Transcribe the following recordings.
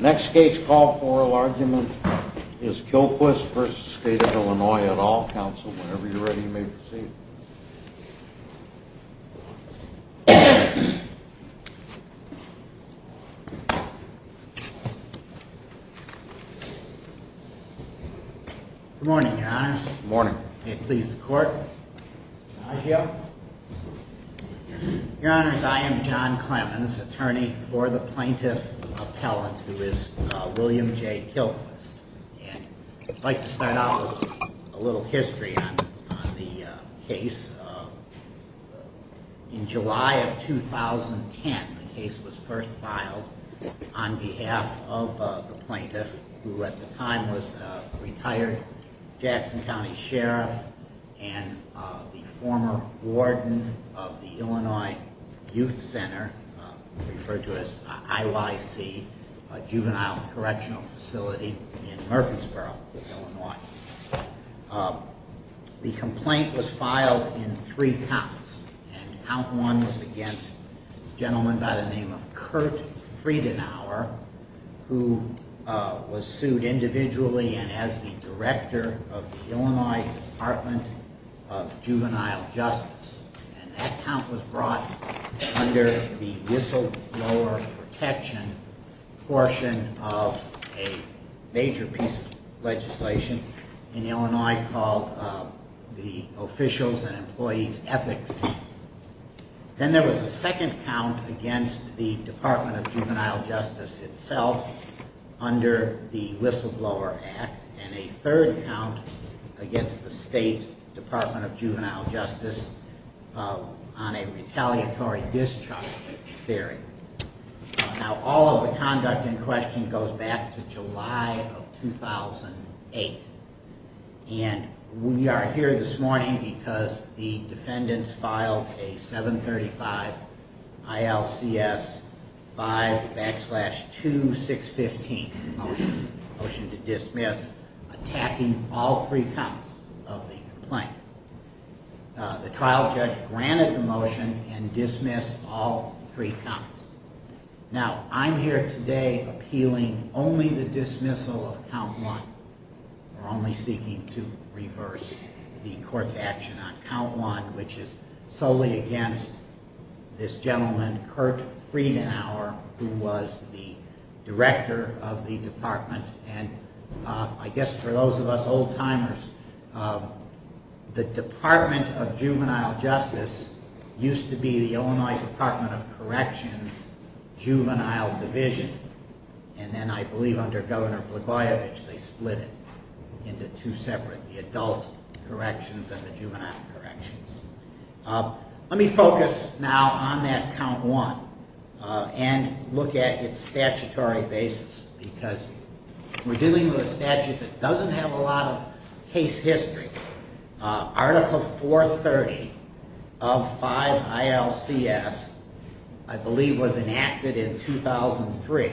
Next state's call for oral argument is Quilquist v. State of Illinois at all counsel. Whenever you're ready, you may proceed. Good morning, your honors. Good morning. May it please the court. Adieu. Your honors, I am John Clemens, attorney for the plaintiff appellant who is William J. Quilquist. And I'd like to start out with a little history on the case. In July of 2010, the case was first filed on behalf of the plaintiff, who at the time was a retired Jackson County sheriff and the former warden of the Illinois Youth Center, referred to as IYC, a juvenile correctional facility in Murfreesboro, Illinois. The complaint was filed in three counts, and count one was against a gentleman by the name of Kurt Friedenauer, who was sued individually and as the director of the Illinois Department of Juvenile Justice. And that count was brought under the whistleblower protection portion of a major piece of legislation in Illinois called the Officials and Employees Ethics Act. Then there was a second count against the Department of Juvenile Justice itself under the Whistleblower Act, and a third count against the State Department of Juvenile Justice on a retaliatory discharge theory. Now all of the conduct in question goes back to July of 2008, and we are here this morning because the defendants filed a 735 ILCS 5 backslash 2615 motion, a motion to dismiss, attacking all three counts of the complaint. The trial judge granted the motion and dismissed all three counts. Now I'm here today appealing only the dismissal of count one. We're only seeking to reverse the court's action on count one, which is solely against this gentleman, Kurt Friedenauer, who was the director of the department. And I guess for those of us old timers, the Department of Juvenile Justice used to be the Illinois Department of Corrections Juvenile Division, and then I believe under Governor Blagojevich they split it into two separate, the adult corrections and the juvenile corrections. Let me focus now on that count one and look at its statutory basis because we're dealing with a statute that doesn't have a lot of case history. Article 430 of 5 ILCS I believe was enacted in 2003,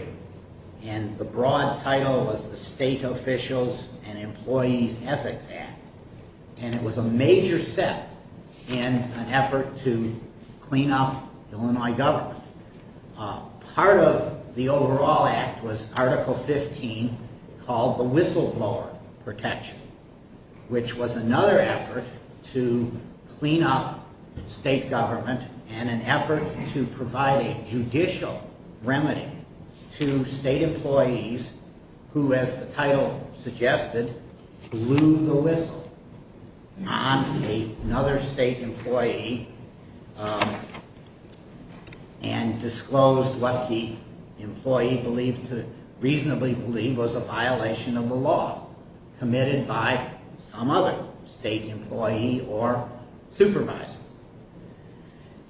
and the broad title was the State Officials and Employees Ethics Act, and it was a major step in an effort to clean up Illinois government. Part of the overall act was Article 15 called the Whistleblower Protection, which was another effort to clean up state government and an effort to provide a judicial remedy to state employees who, as the title suggested, blew the whistle on another state employee. And disclosed what the employee reasonably believed was a violation of the law committed by some other state employee or supervisor.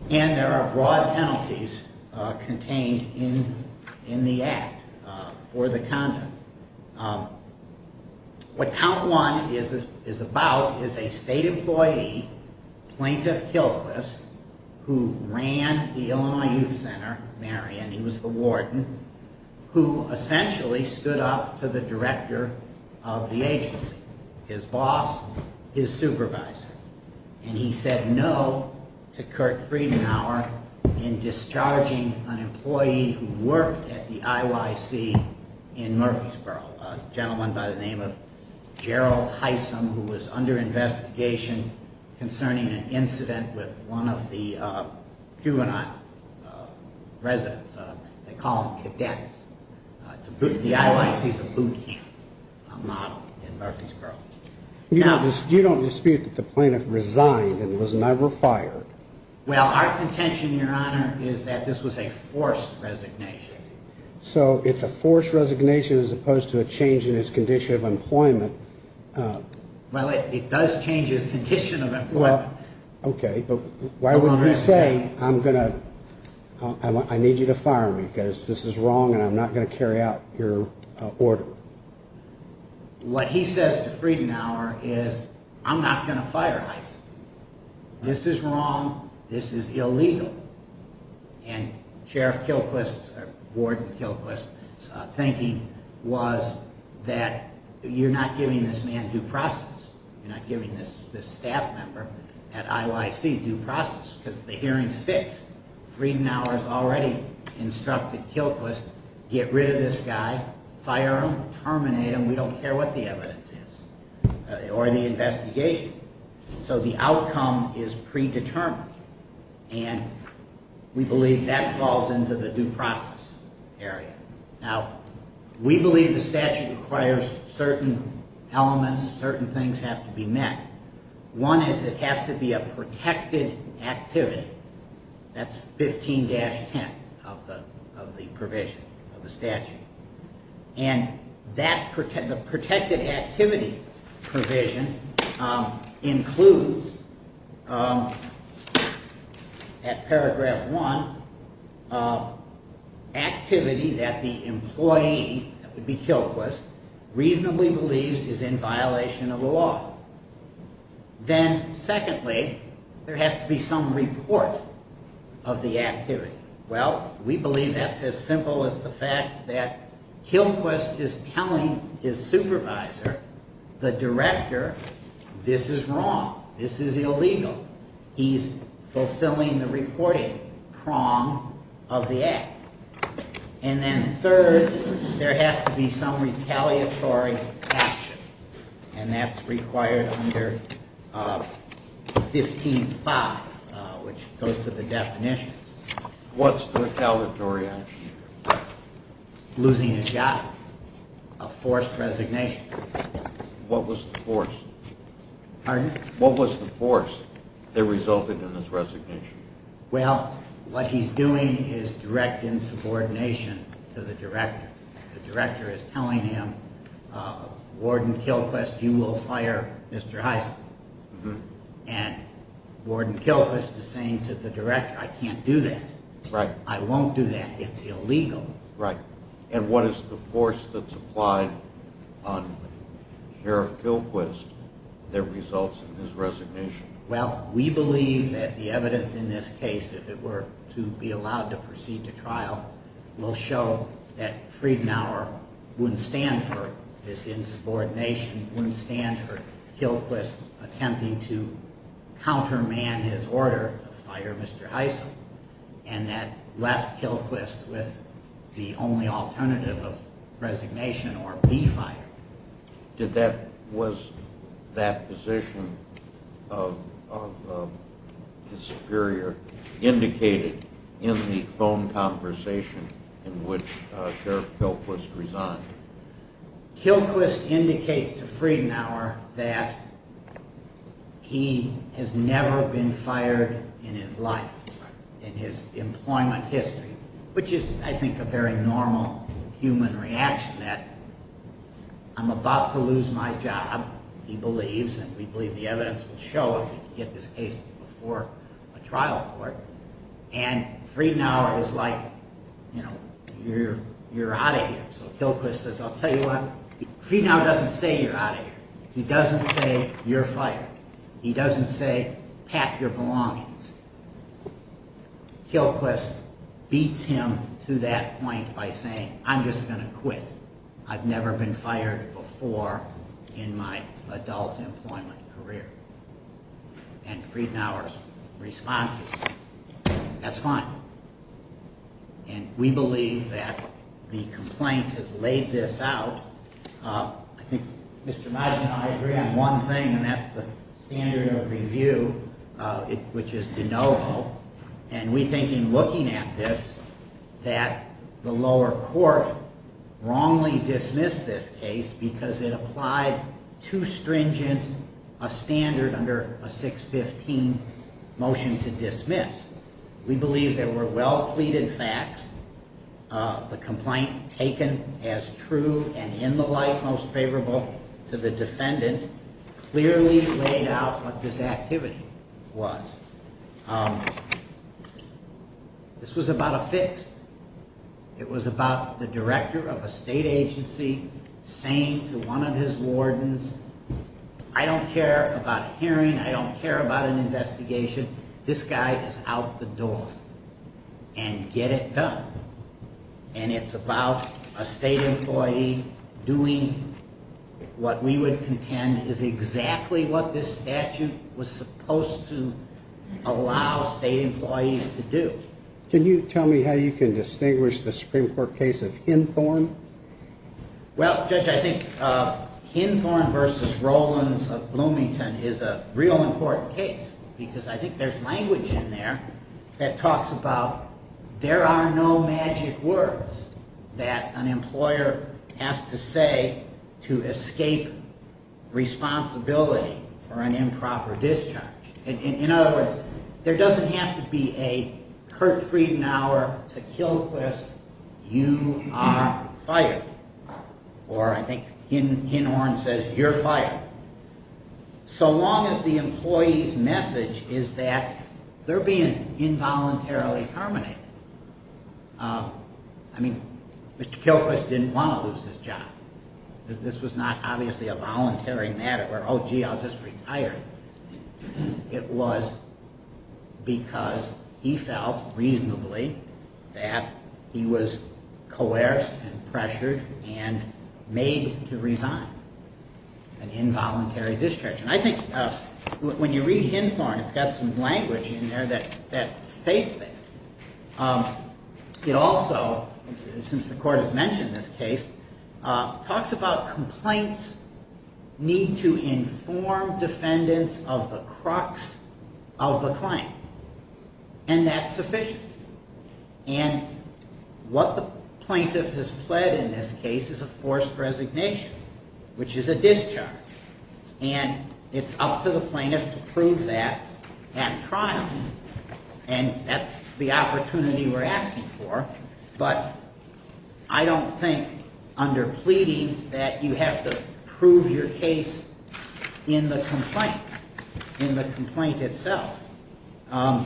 And there are broad penalties contained in the act for the conduct. What count one is about is a state employee, Plaintiff Kilchrist, who ran the Illinois Youth Center, Marion, he was the warden, who essentially stood up to the director of the agency, his boss, his supervisor. And he said no to Kurt Friedenauer in discharging an employee who worked at the IYC in Murfreesboro, a gentleman by the name of Gerald Heisum who was under investigation concerning an incident with one of the juvenile residents, they call them cadets. The IYC is a boot camp model in Murfreesboro. You don't dispute that the plaintiff resigned and was never fired. Well, our contention, your honor, is that this was a forced resignation. So it's a forced resignation as opposed to a change in his condition of employment. Well, it does change his condition of employment. Okay, but why would you say I'm going to, I need you to fire me because this is wrong and I'm not going to carry out your order. What he says to Friedenauer is I'm not going to fire Heisum. This is wrong. This is illegal. And Sheriff Kilchrist, Warden Kilchrist's thinking was that you're not giving this man due process. You're not giving this staff member at IYC due process because the hearing's fixed. Friedenauer's already instructed Kilchrist get rid of this guy, fire him, terminate him, we don't care what the evidence is. Or the investigation. So the outcome is predetermined. And we believe that falls into the due process area. Now, we believe the statute requires certain elements, certain things have to be met. One is it has to be a protected activity. That's 15-10 of the provision of the statute. And the protected activity provision includes, at paragraph one, activity that the employee, that would be Kilchrist, reasonably believes is in violation of the law. Then, secondly, there has to be some report of the activity. Well, we believe that's as simple as the fact that Kilchrist is telling his supervisor, the director, this is wrong, this is illegal. He's fulfilling the reporting prong of the act. And then third, there has to be some retaliatory action. And that's required under 15-5, which goes to the definitions. What's the retaliatory action? Losing his job. A forced resignation. What was the force? Pardon? What was the force that resulted in his resignation? Well, what he's doing is direct insubordination to the director. The director is telling him, Warden Kilchrist, you will fire Mr. Hyson. And Warden Kilchrist is saying to the director, I can't do that. I won't do that, it's illegal. And what is the force that's applied on Sheriff Kilchrist that results in his resignation? Well, we believe that the evidence in this case, if it were to be allowed to proceed to trial, will show that Friedenauer wouldn't stand for this insubordination, wouldn't stand for Kilchrist attempting to counterman his order to fire Mr. Hyson, and that left Kilchrist with the only alternative of resignation, or we fire him. Was that position of his superior indicated in the phone conversation in which Sheriff Kilchrist resigned? Kilchrist indicates to Friedenauer that he has never been fired in his life, in his employment history, which is, I think, a very normal human reaction, that I'm about to lose my job, he believes, and we believe the evidence will show if we can get this case before a trial court, and Friedenauer is like, you know, you're out of here, so Kilchrist says, I'll tell you what, Friedenauer doesn't say you're out of here, he doesn't say you're fired, he doesn't say pack your belongings. Kilchrist beats him to that point by saying, I'm just going to quit. I've never been fired before in my adult employment career. And Friedenauer's response is, that's fine. And we believe that the complaint has laid this out. I think Mr. Magin and I agree on one thing, and that's the standard of review, which is de novo, and we think in looking at this, that the lower court wrongly dismissed this case because it applied too stringent a standard under a 615 motion to dismiss. We believe there were well-pleaded facts. The complaint, taken as true and in the light most favorable to the defendant, clearly laid out what this activity was. This was about a fix. It was about the director of a state agency saying to one of his wardens, I don't care about a hearing, I don't care about an investigation, this guy is out the door. And get it done. And it's about a state employee doing what we would contend is exactly what this statute was supposed to allow state employees to do. Can you tell me how you can distinguish the Supreme Court case of Hinthorn? Well, Judge, I think Hinthorn v. Rollins of Bloomington is a real important case because I think there's language in there that talks about there are no magic words that an employer has to say to escape responsibility for an improper discharge. In other words, there doesn't have to be a Kurt Friedenauer to Kilquist, you are fired. Or I think Hinthorn says, you're fired. So long as the employee's message is that they're being involuntarily terminated. I mean, Mr. Kilquist didn't want to lose his job. This was not obviously a voluntary matter where, oh gee, I'll just retire. It was because he felt reasonably that he was coerced and pressured and made to resign. An involuntary discharge. And I think when you read Hinthorn, it's got some language in there that states that. It also, since the Court has mentioned this case, talks about complaints need to inform defendants of the crux of the claim. And that's sufficient. And what the plaintiff has pled in this case is a forced resignation, which is a discharge. And it's up to the plaintiff to prove that at trial. And that's the opportunity we're asking for. But I don't think under pleading that you have to prove your case in the complaint, in the complaint itself. I'm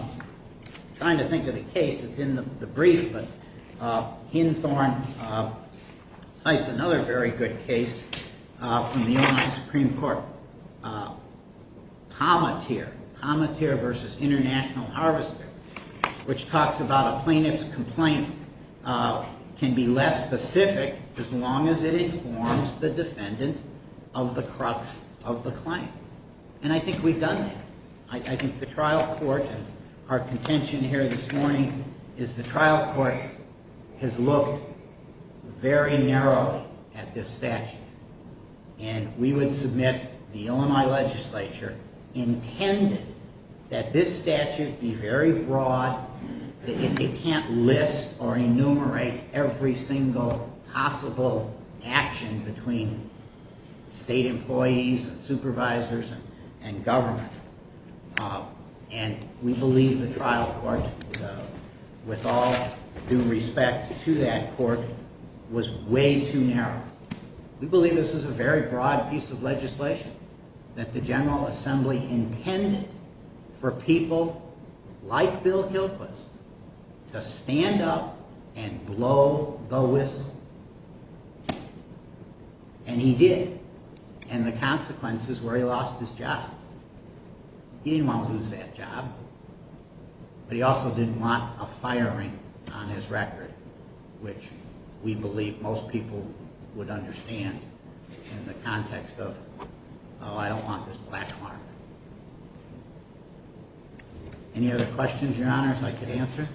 trying to think of a case that's in the brief, but Hinthorn cites another very good case from the Illinois Supreme Court. Pommateer. Pommateer v. International Harvester. Which talks about a plaintiff's complaint can be less specific as long as it informs the defendant of the crux of the claim. And I think we've done that. I think the trial court, and our contention here this morning, is the trial court has looked very narrowly at this statute. And we would submit the Illinois legislature intended that this statute be very broad, that it can't list or enumerate every single possible action between state employees and supervisors and government. And we believe the trial court, with all due respect to that court, was way too narrow. We believe this is a very broad piece of legislation that the General Assembly intended for people like Bill Gilquist to stand up and blow the whistle. And he did. And the consequences were he lost his job. He didn't want to lose that job. But he also didn't want a firing on his record, which we believe most people would understand in the context of, oh, I don't want this black mark. Any other questions, Your Honors, I could answer?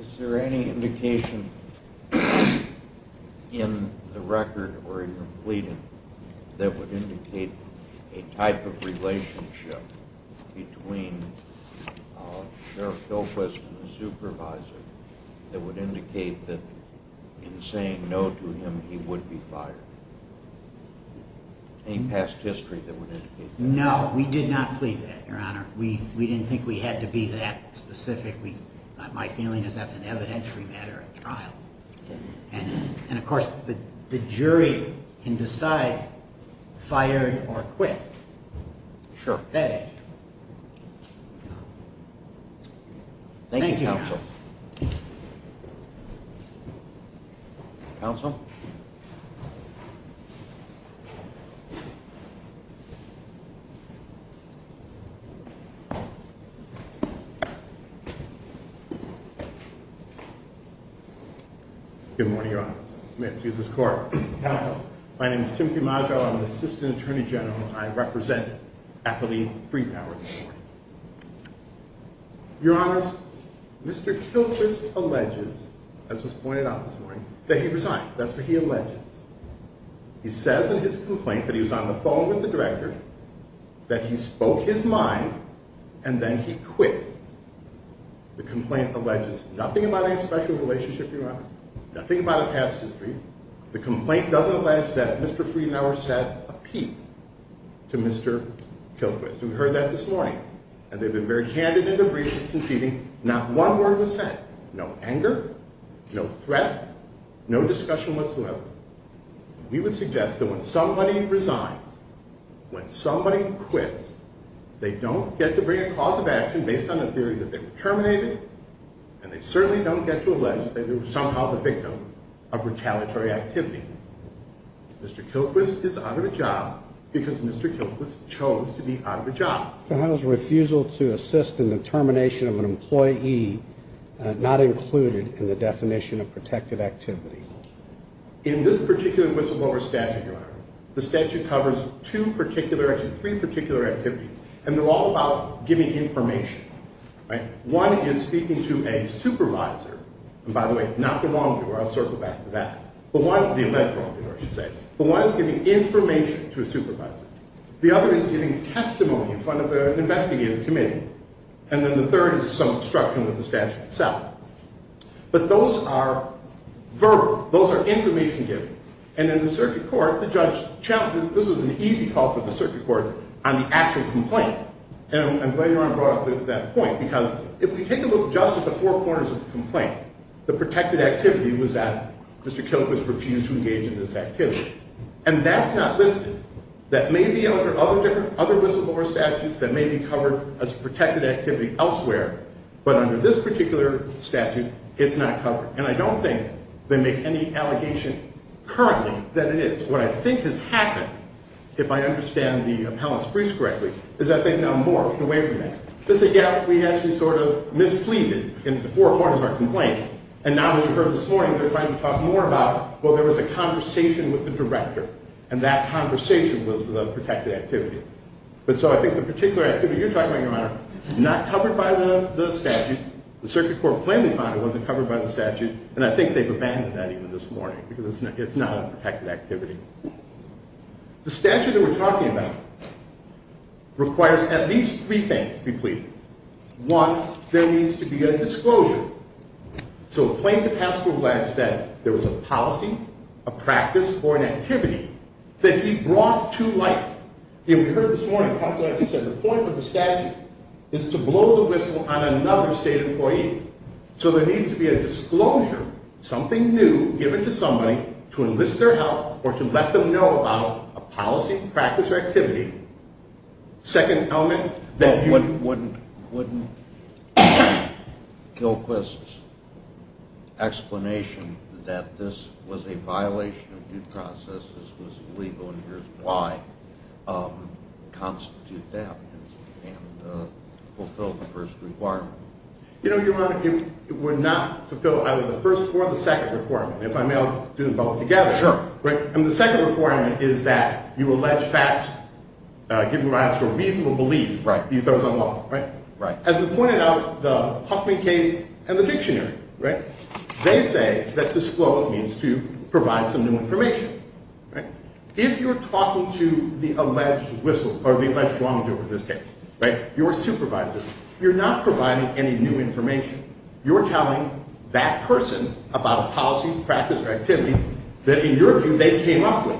Is there any indication in the record or in your pleading that would indicate a type of relationship between Sheriff Gilquist and the supervisor that would indicate that in saying no to him he would be fired? Any past history that would indicate that? No, we did not plead that, Your Honor. We didn't think we had to be that specific. My feeling is that's an evidentiary matter at trial. And, of course, the jury can decide fired or quit. Thank you, Your Honors. Counsel? Good morning, Your Honors. May it please this Court. Counsel, my name is Tim Camaggio. I'm the Assistant Attorney General, and I represent Affiliate Freepower this morning. Your Honors, Mr. Gilquist alleges, as was pointed out this morning, that he resigned. That's what he alleges. He says in his complaint that he was on the phone with the director, that he spoke his mind, and then he quit. The complaint alleges nothing about any special relationship, Your Honors, nothing about a past history. The complaint doesn't allege that Mr. Freepower said a peep to Mr. Gilquist. We heard that this morning. And they've been very candid in their briefs of conceding. Not one word was said. No anger, no threat, no discussion whatsoever. We would suggest that when somebody resigns, when somebody quits, they don't get to bring a cause of action based on the theory that they were terminated, and they certainly don't get to allege that they were somehow the victim of retaliatory activity. Mr. Gilquist is out of a job because Mr. Gilquist chose to be out of a job. He has a refusal to assist in the termination of an employee not included in the definition of protective activity. In this particular whistleblower statute, Your Honor, the statute covers two particular, actually three particular activities, and they're all about giving information. One is speaking to a supervisor. And by the way, not the law, I'll circle back to that. But one is giving information to a supervisor. The other is giving testimony in front of an investigative committee. And then the third is some obstruction with the statute itself. But those are verbal. Those are information giving. And in the circuit court, the judge, this was an easy call for the circuit court on the actual complaint. And I'm glad Your Honor brought up that point because if we take a look just at the four corners of the complaint, the protected activity was that Mr. Gilquist refused to engage in this activity. And that's not listed. That may be under other whistleblower statutes that may be covered as protected activity elsewhere, but under this particular statute, it's not covered. And I don't think they make any allegation currently that it is. What I think has happened, if I understand the appellant's briefs correctly, is that they've now morphed away from that. They say, yeah, we actually sort of mispleaded in the four corners of our complaint. And now as you heard this morning, they're trying to talk more about, well, there was a conversation with the director. And that conversation was the protected activity. But so I think the particular activity you're talking about, Your Honor, is not covered by the statute. The circuit court plainly found it wasn't covered by the statute. And I think they've abandoned that even this morning because it's not a protected activity. The statute that we're talking about requires at least three things to be pleaded. One, there needs to be a disclosure. So a plaintiff has to allege that there was a policy, a practice, or an activity that he brought to light. And we heard this morning, the counsel actually said the point of the statute is to blow the whistle on another state employee. So there needs to be a disclosure, something new given to somebody to enlist their help or to let them know about a policy, practice, or activity. Second element, that you... But wouldn't Kilquist's explanation that this was a violation of due process, this was illegal, and here's why, constitute that and fulfill the first requirement? You know, Your Honor, it would not fulfill either the first or the second requirement, if I may do them both together. Sure. And the second requirement is that you allege facts given rise to a reasonable belief that he throws them off. As we pointed out, the Huffman case and the dictionary, they say that disclose means to provide some new information. If you're talking to the alleged whistle, or the alleged wrongdoer in this case, right, your supervisor, you're not providing any new information. You're telling that person about a policy, practice, or activity that in your view they came up with.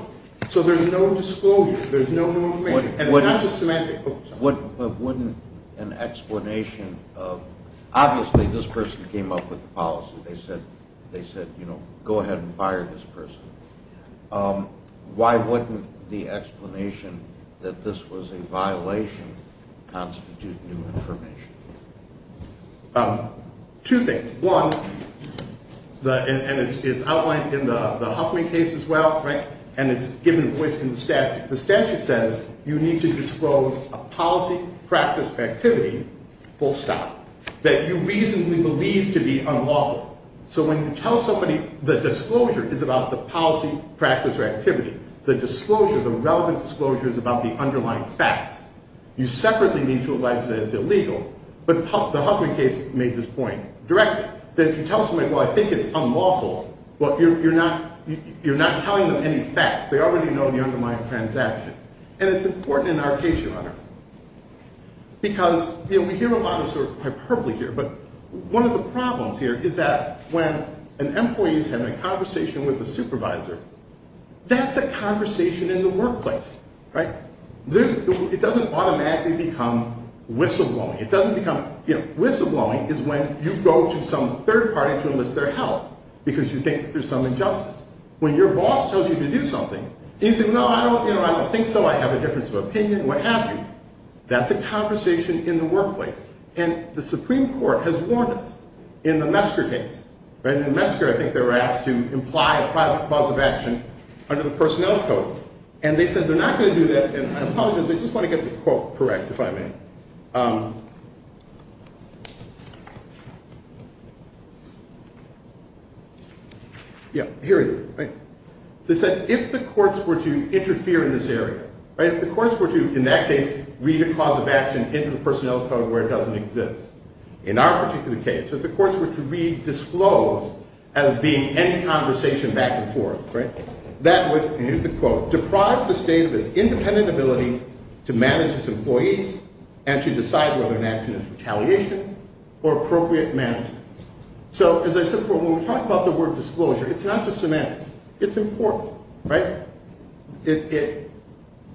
So there's no disclosure, there's no new information. And it's not just semantics. But wouldn't an explanation of, obviously this person came up with the policy. They said, you know, go ahead and fire this person. Why wouldn't the explanation that this was a violation constitute new information? Two things. One, and it's outlined in the Huffman case as well, right, and it's given voice in the statute. The statute says you need to disclose a policy, practice, or activity, full stop, that you reasonably believe to be unlawful. So when you tell somebody the disclosure is about the policy, practice, or activity, the disclosure, the relevant disclosure is about the underlying facts. You separately need to allege that it's illegal, but the Huffman case made this point directly. That if you tell somebody, well, I think it's unlawful, well, you're not telling them any facts. They already know the underlying transaction. Because, you know, we hear a lot of sort of hyperbole here, but one of the problems here is that when an employee is having a conversation with a supervisor, that's a conversation in the workplace, right? It doesn't automatically become whistleblowing. It doesn't become, you know, whistleblowing is when you go to some third party to enlist their help because you think there's some injustice. When your boss tells you to do something, you say, no, I don't, you know, I don't think so, I have a difference of opinion, what have you. That's a conversation in the workplace. And the Supreme Court has warned us in the Metzger case, right? In Metzger, I think they were asked to imply a private cause of action under the Personnel Code. And they said they're not going to do that, and I apologize, I just want to get the quote correct, if I may. Yeah, here it is, right? They said if the courts were to interfere in this area, right, if the courts were to, in that case, read a cause of action into the Personnel Code where it doesn't exist, in our particular case, if the courts were to read disclose as being any conversation back and forth, right, that would, and here's the quote, deprive the state of its independent ability to manage its employees and to decide whether an action is retaliation or appropriate management. So, as I said before, when we talk about the word disclosure, it's not just semantics. It's important, right? It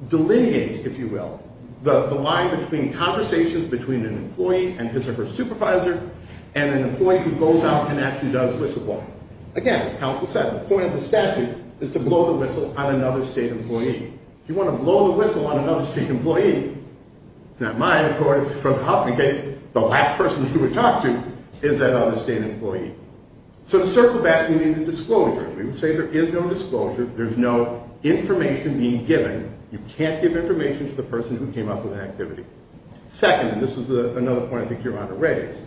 delineates, if you will, the line between conversations between an employee and his or her supervisor and an employee who goes out and actually does whistleblowing. Again, as counsel said, the point of the statute is to blow the whistle on another state employee. If you want to blow the whistle on another state employee, it's not mine, of course, it's from the Huffington case, the last person you would talk to is that other state employee. So to circle back, we need a disclosure. We would say there is no disclosure, there's no information being given, you can't give information to the person who came up with an activity. Second, and this was another point I think Your Honor raised.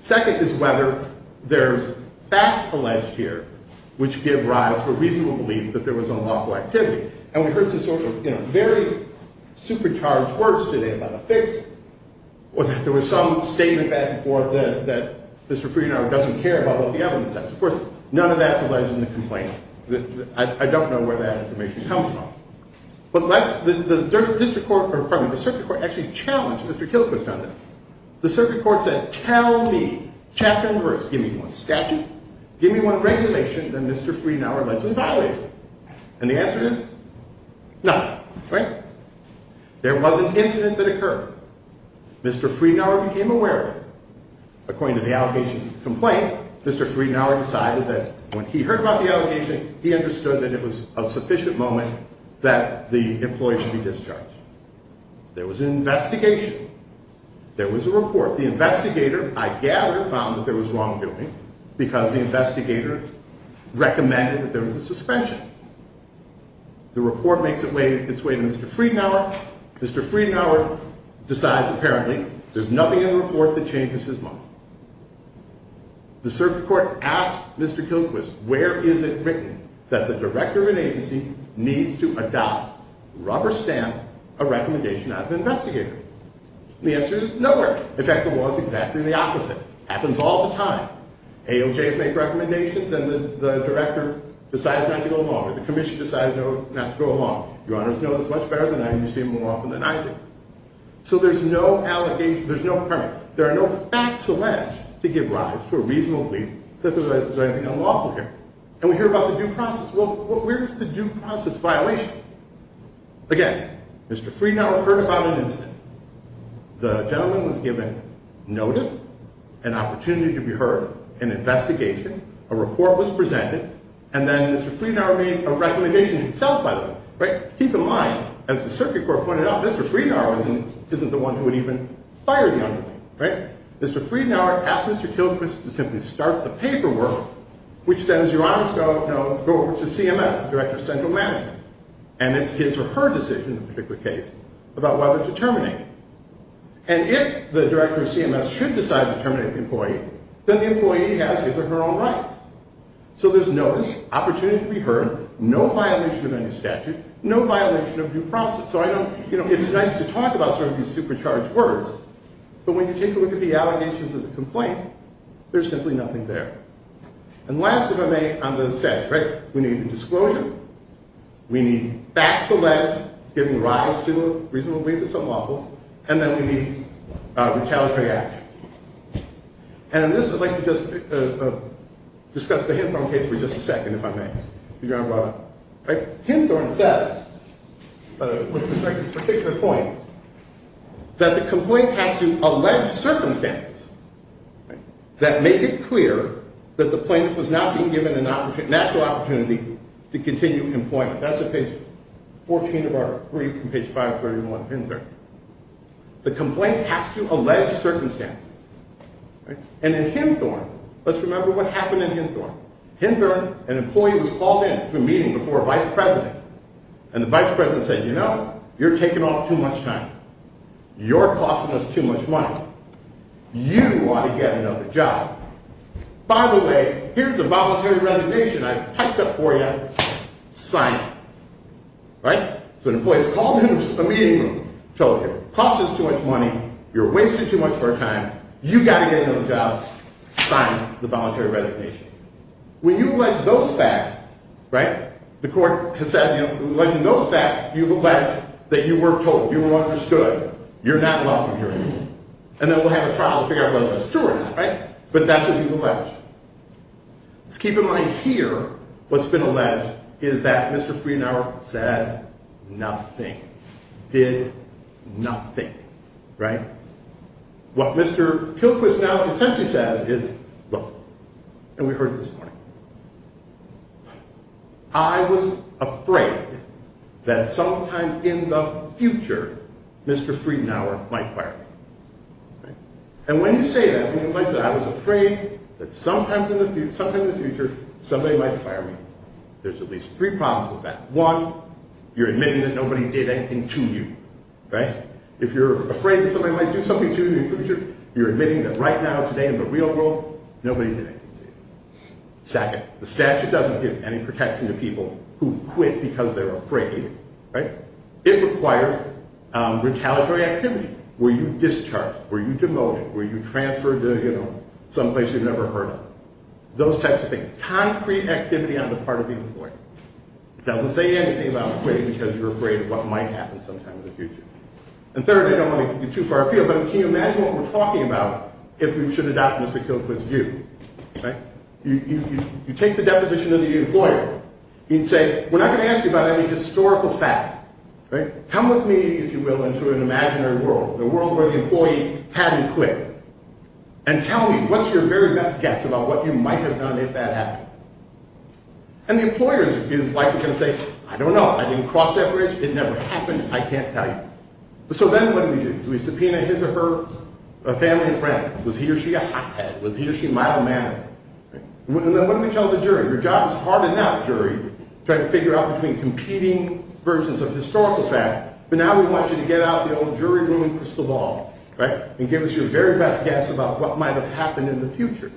Second is whether there's facts alleged here which give rise to a reasonable belief that there was unlawful activity. And we heard some sort of very supercharged words today about a fix or that there was some statement back and forth that Mr. Friedenauer doesn't care about what the evidence says. Of course, none of that's alleged in the complaint. I don't know where that information comes from. But the circuit court actually challenged Mr. Kilchrist on this. The circuit court said, tell me, chapter and verse, give me one statute, give me one regulation that Mr. Friedenauer allegedly violated. And the answer is no, right? There was an incident that occurred. According to the allegation complaint, Mr. Friedenauer decided that when he heard about the allegation, he understood that it was a sufficient moment that the employee should be discharged. There was an investigation. There was a report. The investigator, I gather, found that there was wrongdoing because the investigator recommended that there was a suspension. The report makes its way to Mr. Friedenauer. Mr. Friedenauer decides apparently there's nothing in the report that changes his mind. The circuit court asked Mr. Kilchrist, where is it written that the director of an agency needs to adopt, rubber stamp, a recommendation out of the investigator? The answer is nowhere. In fact, the law is exactly the opposite. Happens all the time. AOJs make recommendations and the director decides not to go along, or the commission decides not to go along. Your honors know this much better than I do, you see it more often than I do. So there's no allegation, there's no permit. There are no facts alleged to give rise to a reasonable belief that there's anything unlawful here. And we hear about the due process. Well, where's the due process violation? Again, Mr. Friedenauer heard about an incident. The gentleman was given notice, an opportunity to be heard, an investigation, a report was presented, and then Mr. Friedenauer made a recommendation himself, by the way. Keep in mind, as the circuit court pointed out, Mr. Friedenauer isn't the one who would even fire the underling. Mr. Friedenauer asked Mr. Kilchrist to simply start the paperwork, which then, as your honors know, goes over to CMS, the director of central management. And it's his or her decision, in this particular case, about whether to terminate him. And if the director of CMS should decide to terminate the employee, then the employee has his or her own rights. So there's notice, opportunity to be heard, no violation of any statute, no violation of due process. So I don't, you know, it's nice to talk about sort of these supercharged words, but when you take a look at the allegations of the complaint, there's simply nothing there. And last if I may, on the set, right, we need a disclosure, we need facts alleged, giving rise to a reasonable belief that something's awful, and then we need retaliatory action. And in this, I'd like to just discuss the Hinthorn case for just a second, if I may, if you don't mind. Hinthorn says, with respect to this particular point, that the complaint has to allege circumstances that make it clear that the plaintiff was not being given a natural opportunity to continue employment. That's at page 14 of our brief from page 531 of Hinthorn. The complaint has to allege circumstances. And in Hinthorn, let's remember what happened in Hinthorn. Hinthorn, an employee was called in to a meeting before a vice president, and the vice president said, you know, you're taking off too much time. You're costing us too much money. You ought to get another job. By the way, here's a voluntary resignation I've typed up for you. Sign it. Right? So an employee was called in to a meeting room, told here, you're costing us too much money. You're wasting too much of our time. You've got to get another job. Sign the voluntary resignation. When you allege those facts, right, the court has said, you know, alleging those facts, you've alleged that you were told, you were understood. You're not welcome here anymore. And then we'll have a trial to figure out whether that's true or not, right? But that's what you've alleged. Let's keep in mind here, what's been alleged is that Mr. Friedenauer said nothing. Did nothing. Right? What Mr. Kilquis now essentially says is, look, and we heard it this morning. I was afraid that sometime in the future, Mr. Friedenauer might fire me. And when you say that, when you allege that I was afraid that sometime in the future, somebody might fire me, there's at least three problems with that. One, you're admitting that nobody did anything to you. Right? If you're afraid that somebody might do something to you in the future, you're admitting that right now, today, in the real world, nobody did anything to you. Second, the statute doesn't give any protection to people who quit because they're afraid. Right? It requires retaliatory activity. Were you discharged? Were you demoted? Were you transferred to, you know, someplace you've never heard of? Those types of things. Concrete activity on the part of the employer. It doesn't say anything about quitting because you're afraid of what might happen sometime in the future. And third, I don't want to give you too far afield, but can you imagine what we're talking about if we should adopt Mr. Kilquis' view? Right? You take the deposition of the employer. He'd say, we're not going to ask you about any historical fact. Right? Come with me, if you will, into an imaginary world, a world where the employee hadn't quit. And tell me what's your very best guess about what you might have done if that happened. And the employer is likely going to say, I don't know. I didn't cross that bridge. It never happened. I can't tell you. So then what do we do? Do we subpoena his or her family and friends? Was he or she a hothead? Was he or she mild-mannered? Right? And then what do we tell the jury? Your job is hard enough, jury, trying to figure out between competing versions of historical fact. But now we want you to get out of the old jury room crystal ball. Right? And give us your very best guess about what might have happened in the future.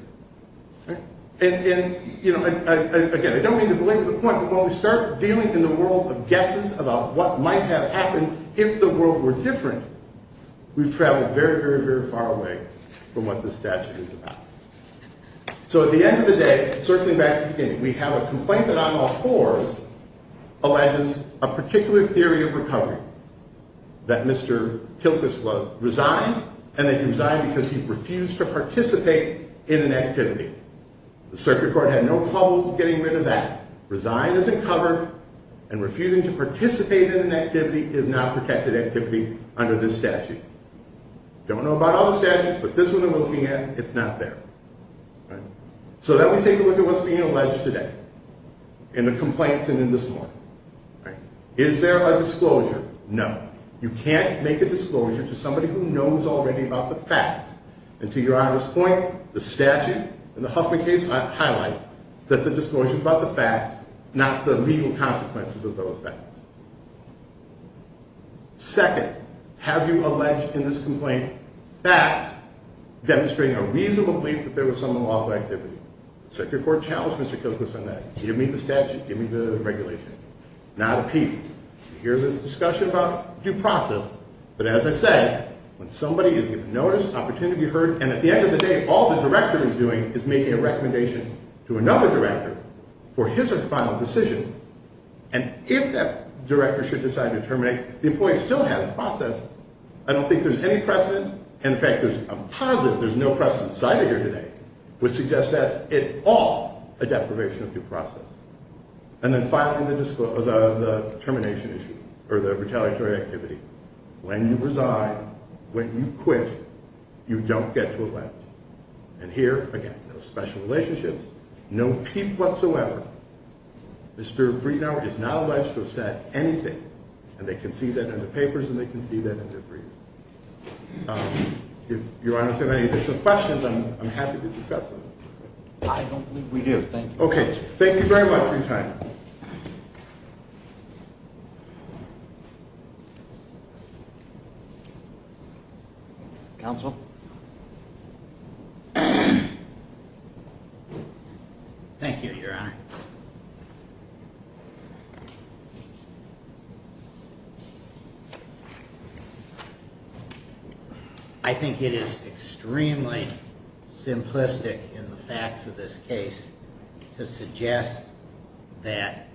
Right? And, you know, again, I don't mean to belabor the point, but when we start dealing in the world of guesses about what might have happened if the world were different, we've traveled very, very, very far away from what this statute is about. So at the end of the day, circling back to the beginning, we have a complaint that on law fours alleges a particular theory of recovery, that Mr. Kilkus was resigned, and that he resigned because he refused to participate in an activity. The circuit court had no problem getting rid of that. Resign isn't covered, and refusing to participate in an activity is not protected activity under this statute. Don't know about all the statutes, but this one I'm looking at, it's not there. Right? So then we take a look at what's being alleged today in the complaints and in this one. Right? Is there a disclosure? No. You can't make a disclosure to somebody who knows already about the facts. And to your honor's point, the statute and the Huffman case highlight that the disclosure is about the facts, not the legal consequences of those facts. Second, have you alleged in this complaint facts demonstrating a reasonable belief that there was some unlawful activity? Circuit court challenged Mr. Kilkus on that. Give me the statute. Give me the regulation. Not a peep. You hear this discussion about due process, but as I said, when somebody is given notice, opportunity to be heard, and at the end of the day, all the director is doing is making a recommendation to another director for his or her final decision, and if that director should decide to terminate, the employee still has a process. I don't think there's any precedent. In fact, there's a positive, there's no precedent cited here today, which suggests that's at all a deprivation of due process. And then finally, the termination issue or the retaliatory activity. When you resign, when you quit, you don't get to allege. And here, again, no special relationships, no peep whatsoever. Mr. Friedenauer is not alleged to have said anything, and they can see that in the papers and they can see that in their brief. If Your Honor has any additional questions, I'm happy to discuss them. I don't believe we do. Thank you. Okay. Thank you very much for your time. Counsel? Thank you, Your Honor. I think it is extremely simplistic in the facts of this case to suggest that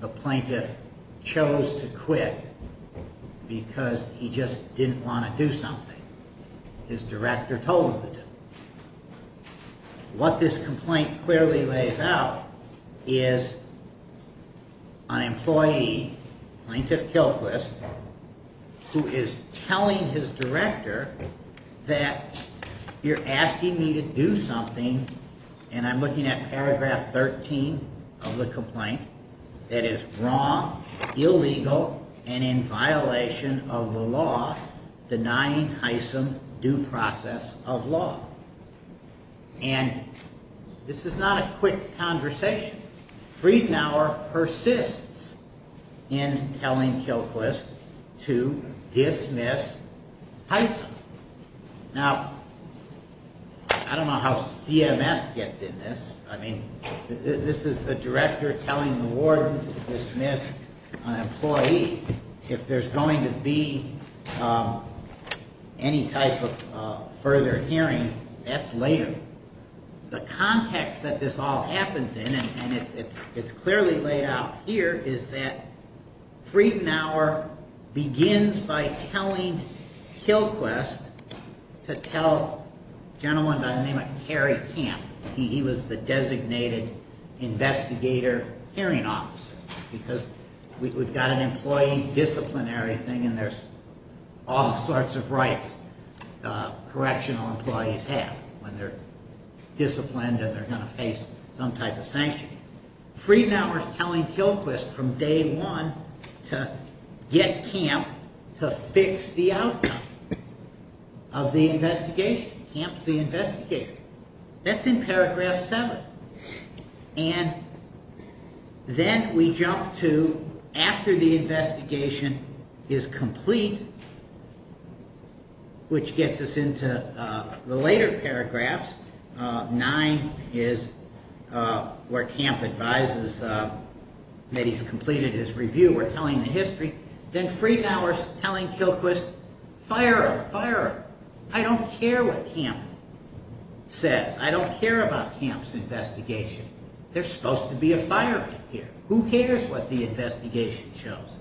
the plaintiff chose to quit because he just didn't want to do something his director told him to do. What this complaint clearly lays out is an employee, Plaintiff Kilquist, who is telling his director that you're asking me to do something, and I'm looking at paragraph 13 of the complaint, that is wrong, illegal, and in violation of the law, denying hycem due process of law. And this is not a quick conversation. Friedenauer persists in telling Kilquist to dismiss hycem. Now, I don't know how CMS gets in this. I mean, this is the director telling the warden to dismiss an employee. If there's going to be any type of further hearing, that's later. The context that this all happens in, and it's clearly laid out here, is that Friedenauer begins by telling Kilquist to tell a gentleman by the name of Cary Camp. He was the designated investigator hearing officer because we've got an employee disciplinary thing and there's all sorts of rights correctional employees have when they're disciplined and they're going to face some type of sanction. Friedenauer is telling Kilquist from day one to get Camp to fix the outcome of the investigation. Camp's the investigator. That's in paragraph 7. And then we jump to after the investigation is complete, which gets us into the later paragraphs, 9 is where Camp advises that he's completed his review, we're telling the history. Then Friedenauer is telling Kilquist, fire him, fire him. I don't care what Camp says. I don't care about Camp's investigation. There's supposed to be a fireman here. Who cares what the investigation shows?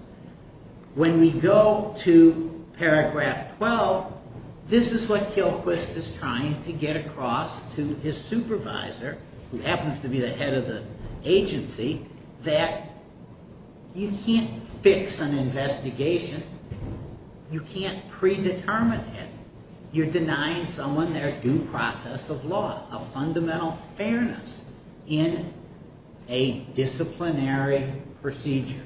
When we go to paragraph 12, this is what Kilquist is trying to get across to his supervisor, who happens to be the head of the agency, that you can't fix an investigation, you can't predetermine it. You're denying someone their due process of law, a fundamental fairness in a disciplinary procedure.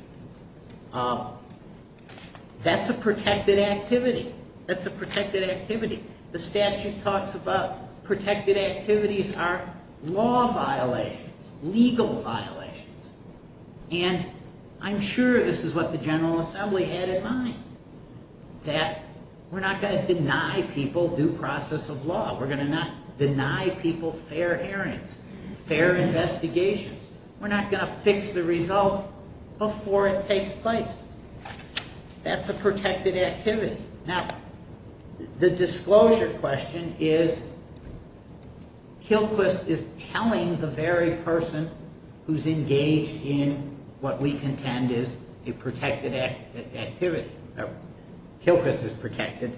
That's a protected activity. That's a protected activity. The statute talks about protected activities are law violations, legal violations. And I'm sure this is what the General Assembly had in mind, that we're not going to deny people due process of law. We're going to not deny people fair hearings, fair investigations. We're not going to fix the result before it takes place. That's a protected activity. Now, the disclosure question is, Kilquist is telling the very person who's engaged in what we contend is a protected activity. Kilquist is protected.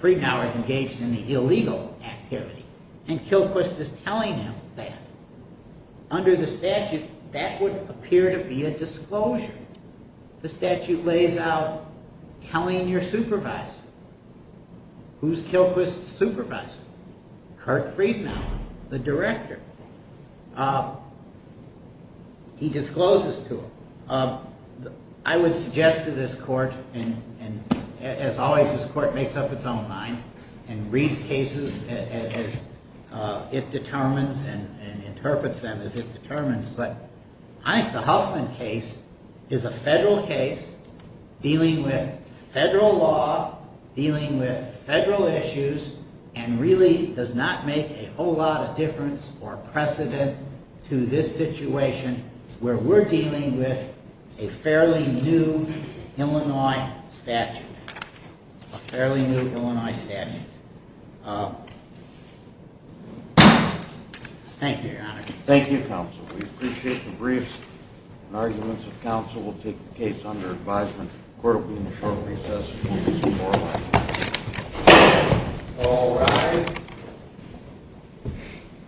Friedenauer is engaged in the illegal activity. And Kilquist is telling him that. Under the statute, that would appear to be a disclosure. The statute lays out telling your supervisor. Who's Kilquist's supervisor? Kurt Friedenauer, the director. He discloses to him. I would suggest to this court, and as always, this court makes up its own mind and reads cases as it determines and interprets them as it determines, but I think the Huffman case is a federal case dealing with federal law, dealing with federal issues, and really does not make a whole lot of difference or precedent to this situation where we're dealing with a fairly new Illinois statute. A fairly new Illinois statute. Thank you, Your Honor. Thank you, counsel. We appreciate the briefs and arguments of counsel. We'll take the case under advisement. The court will be in the short recess. All rise.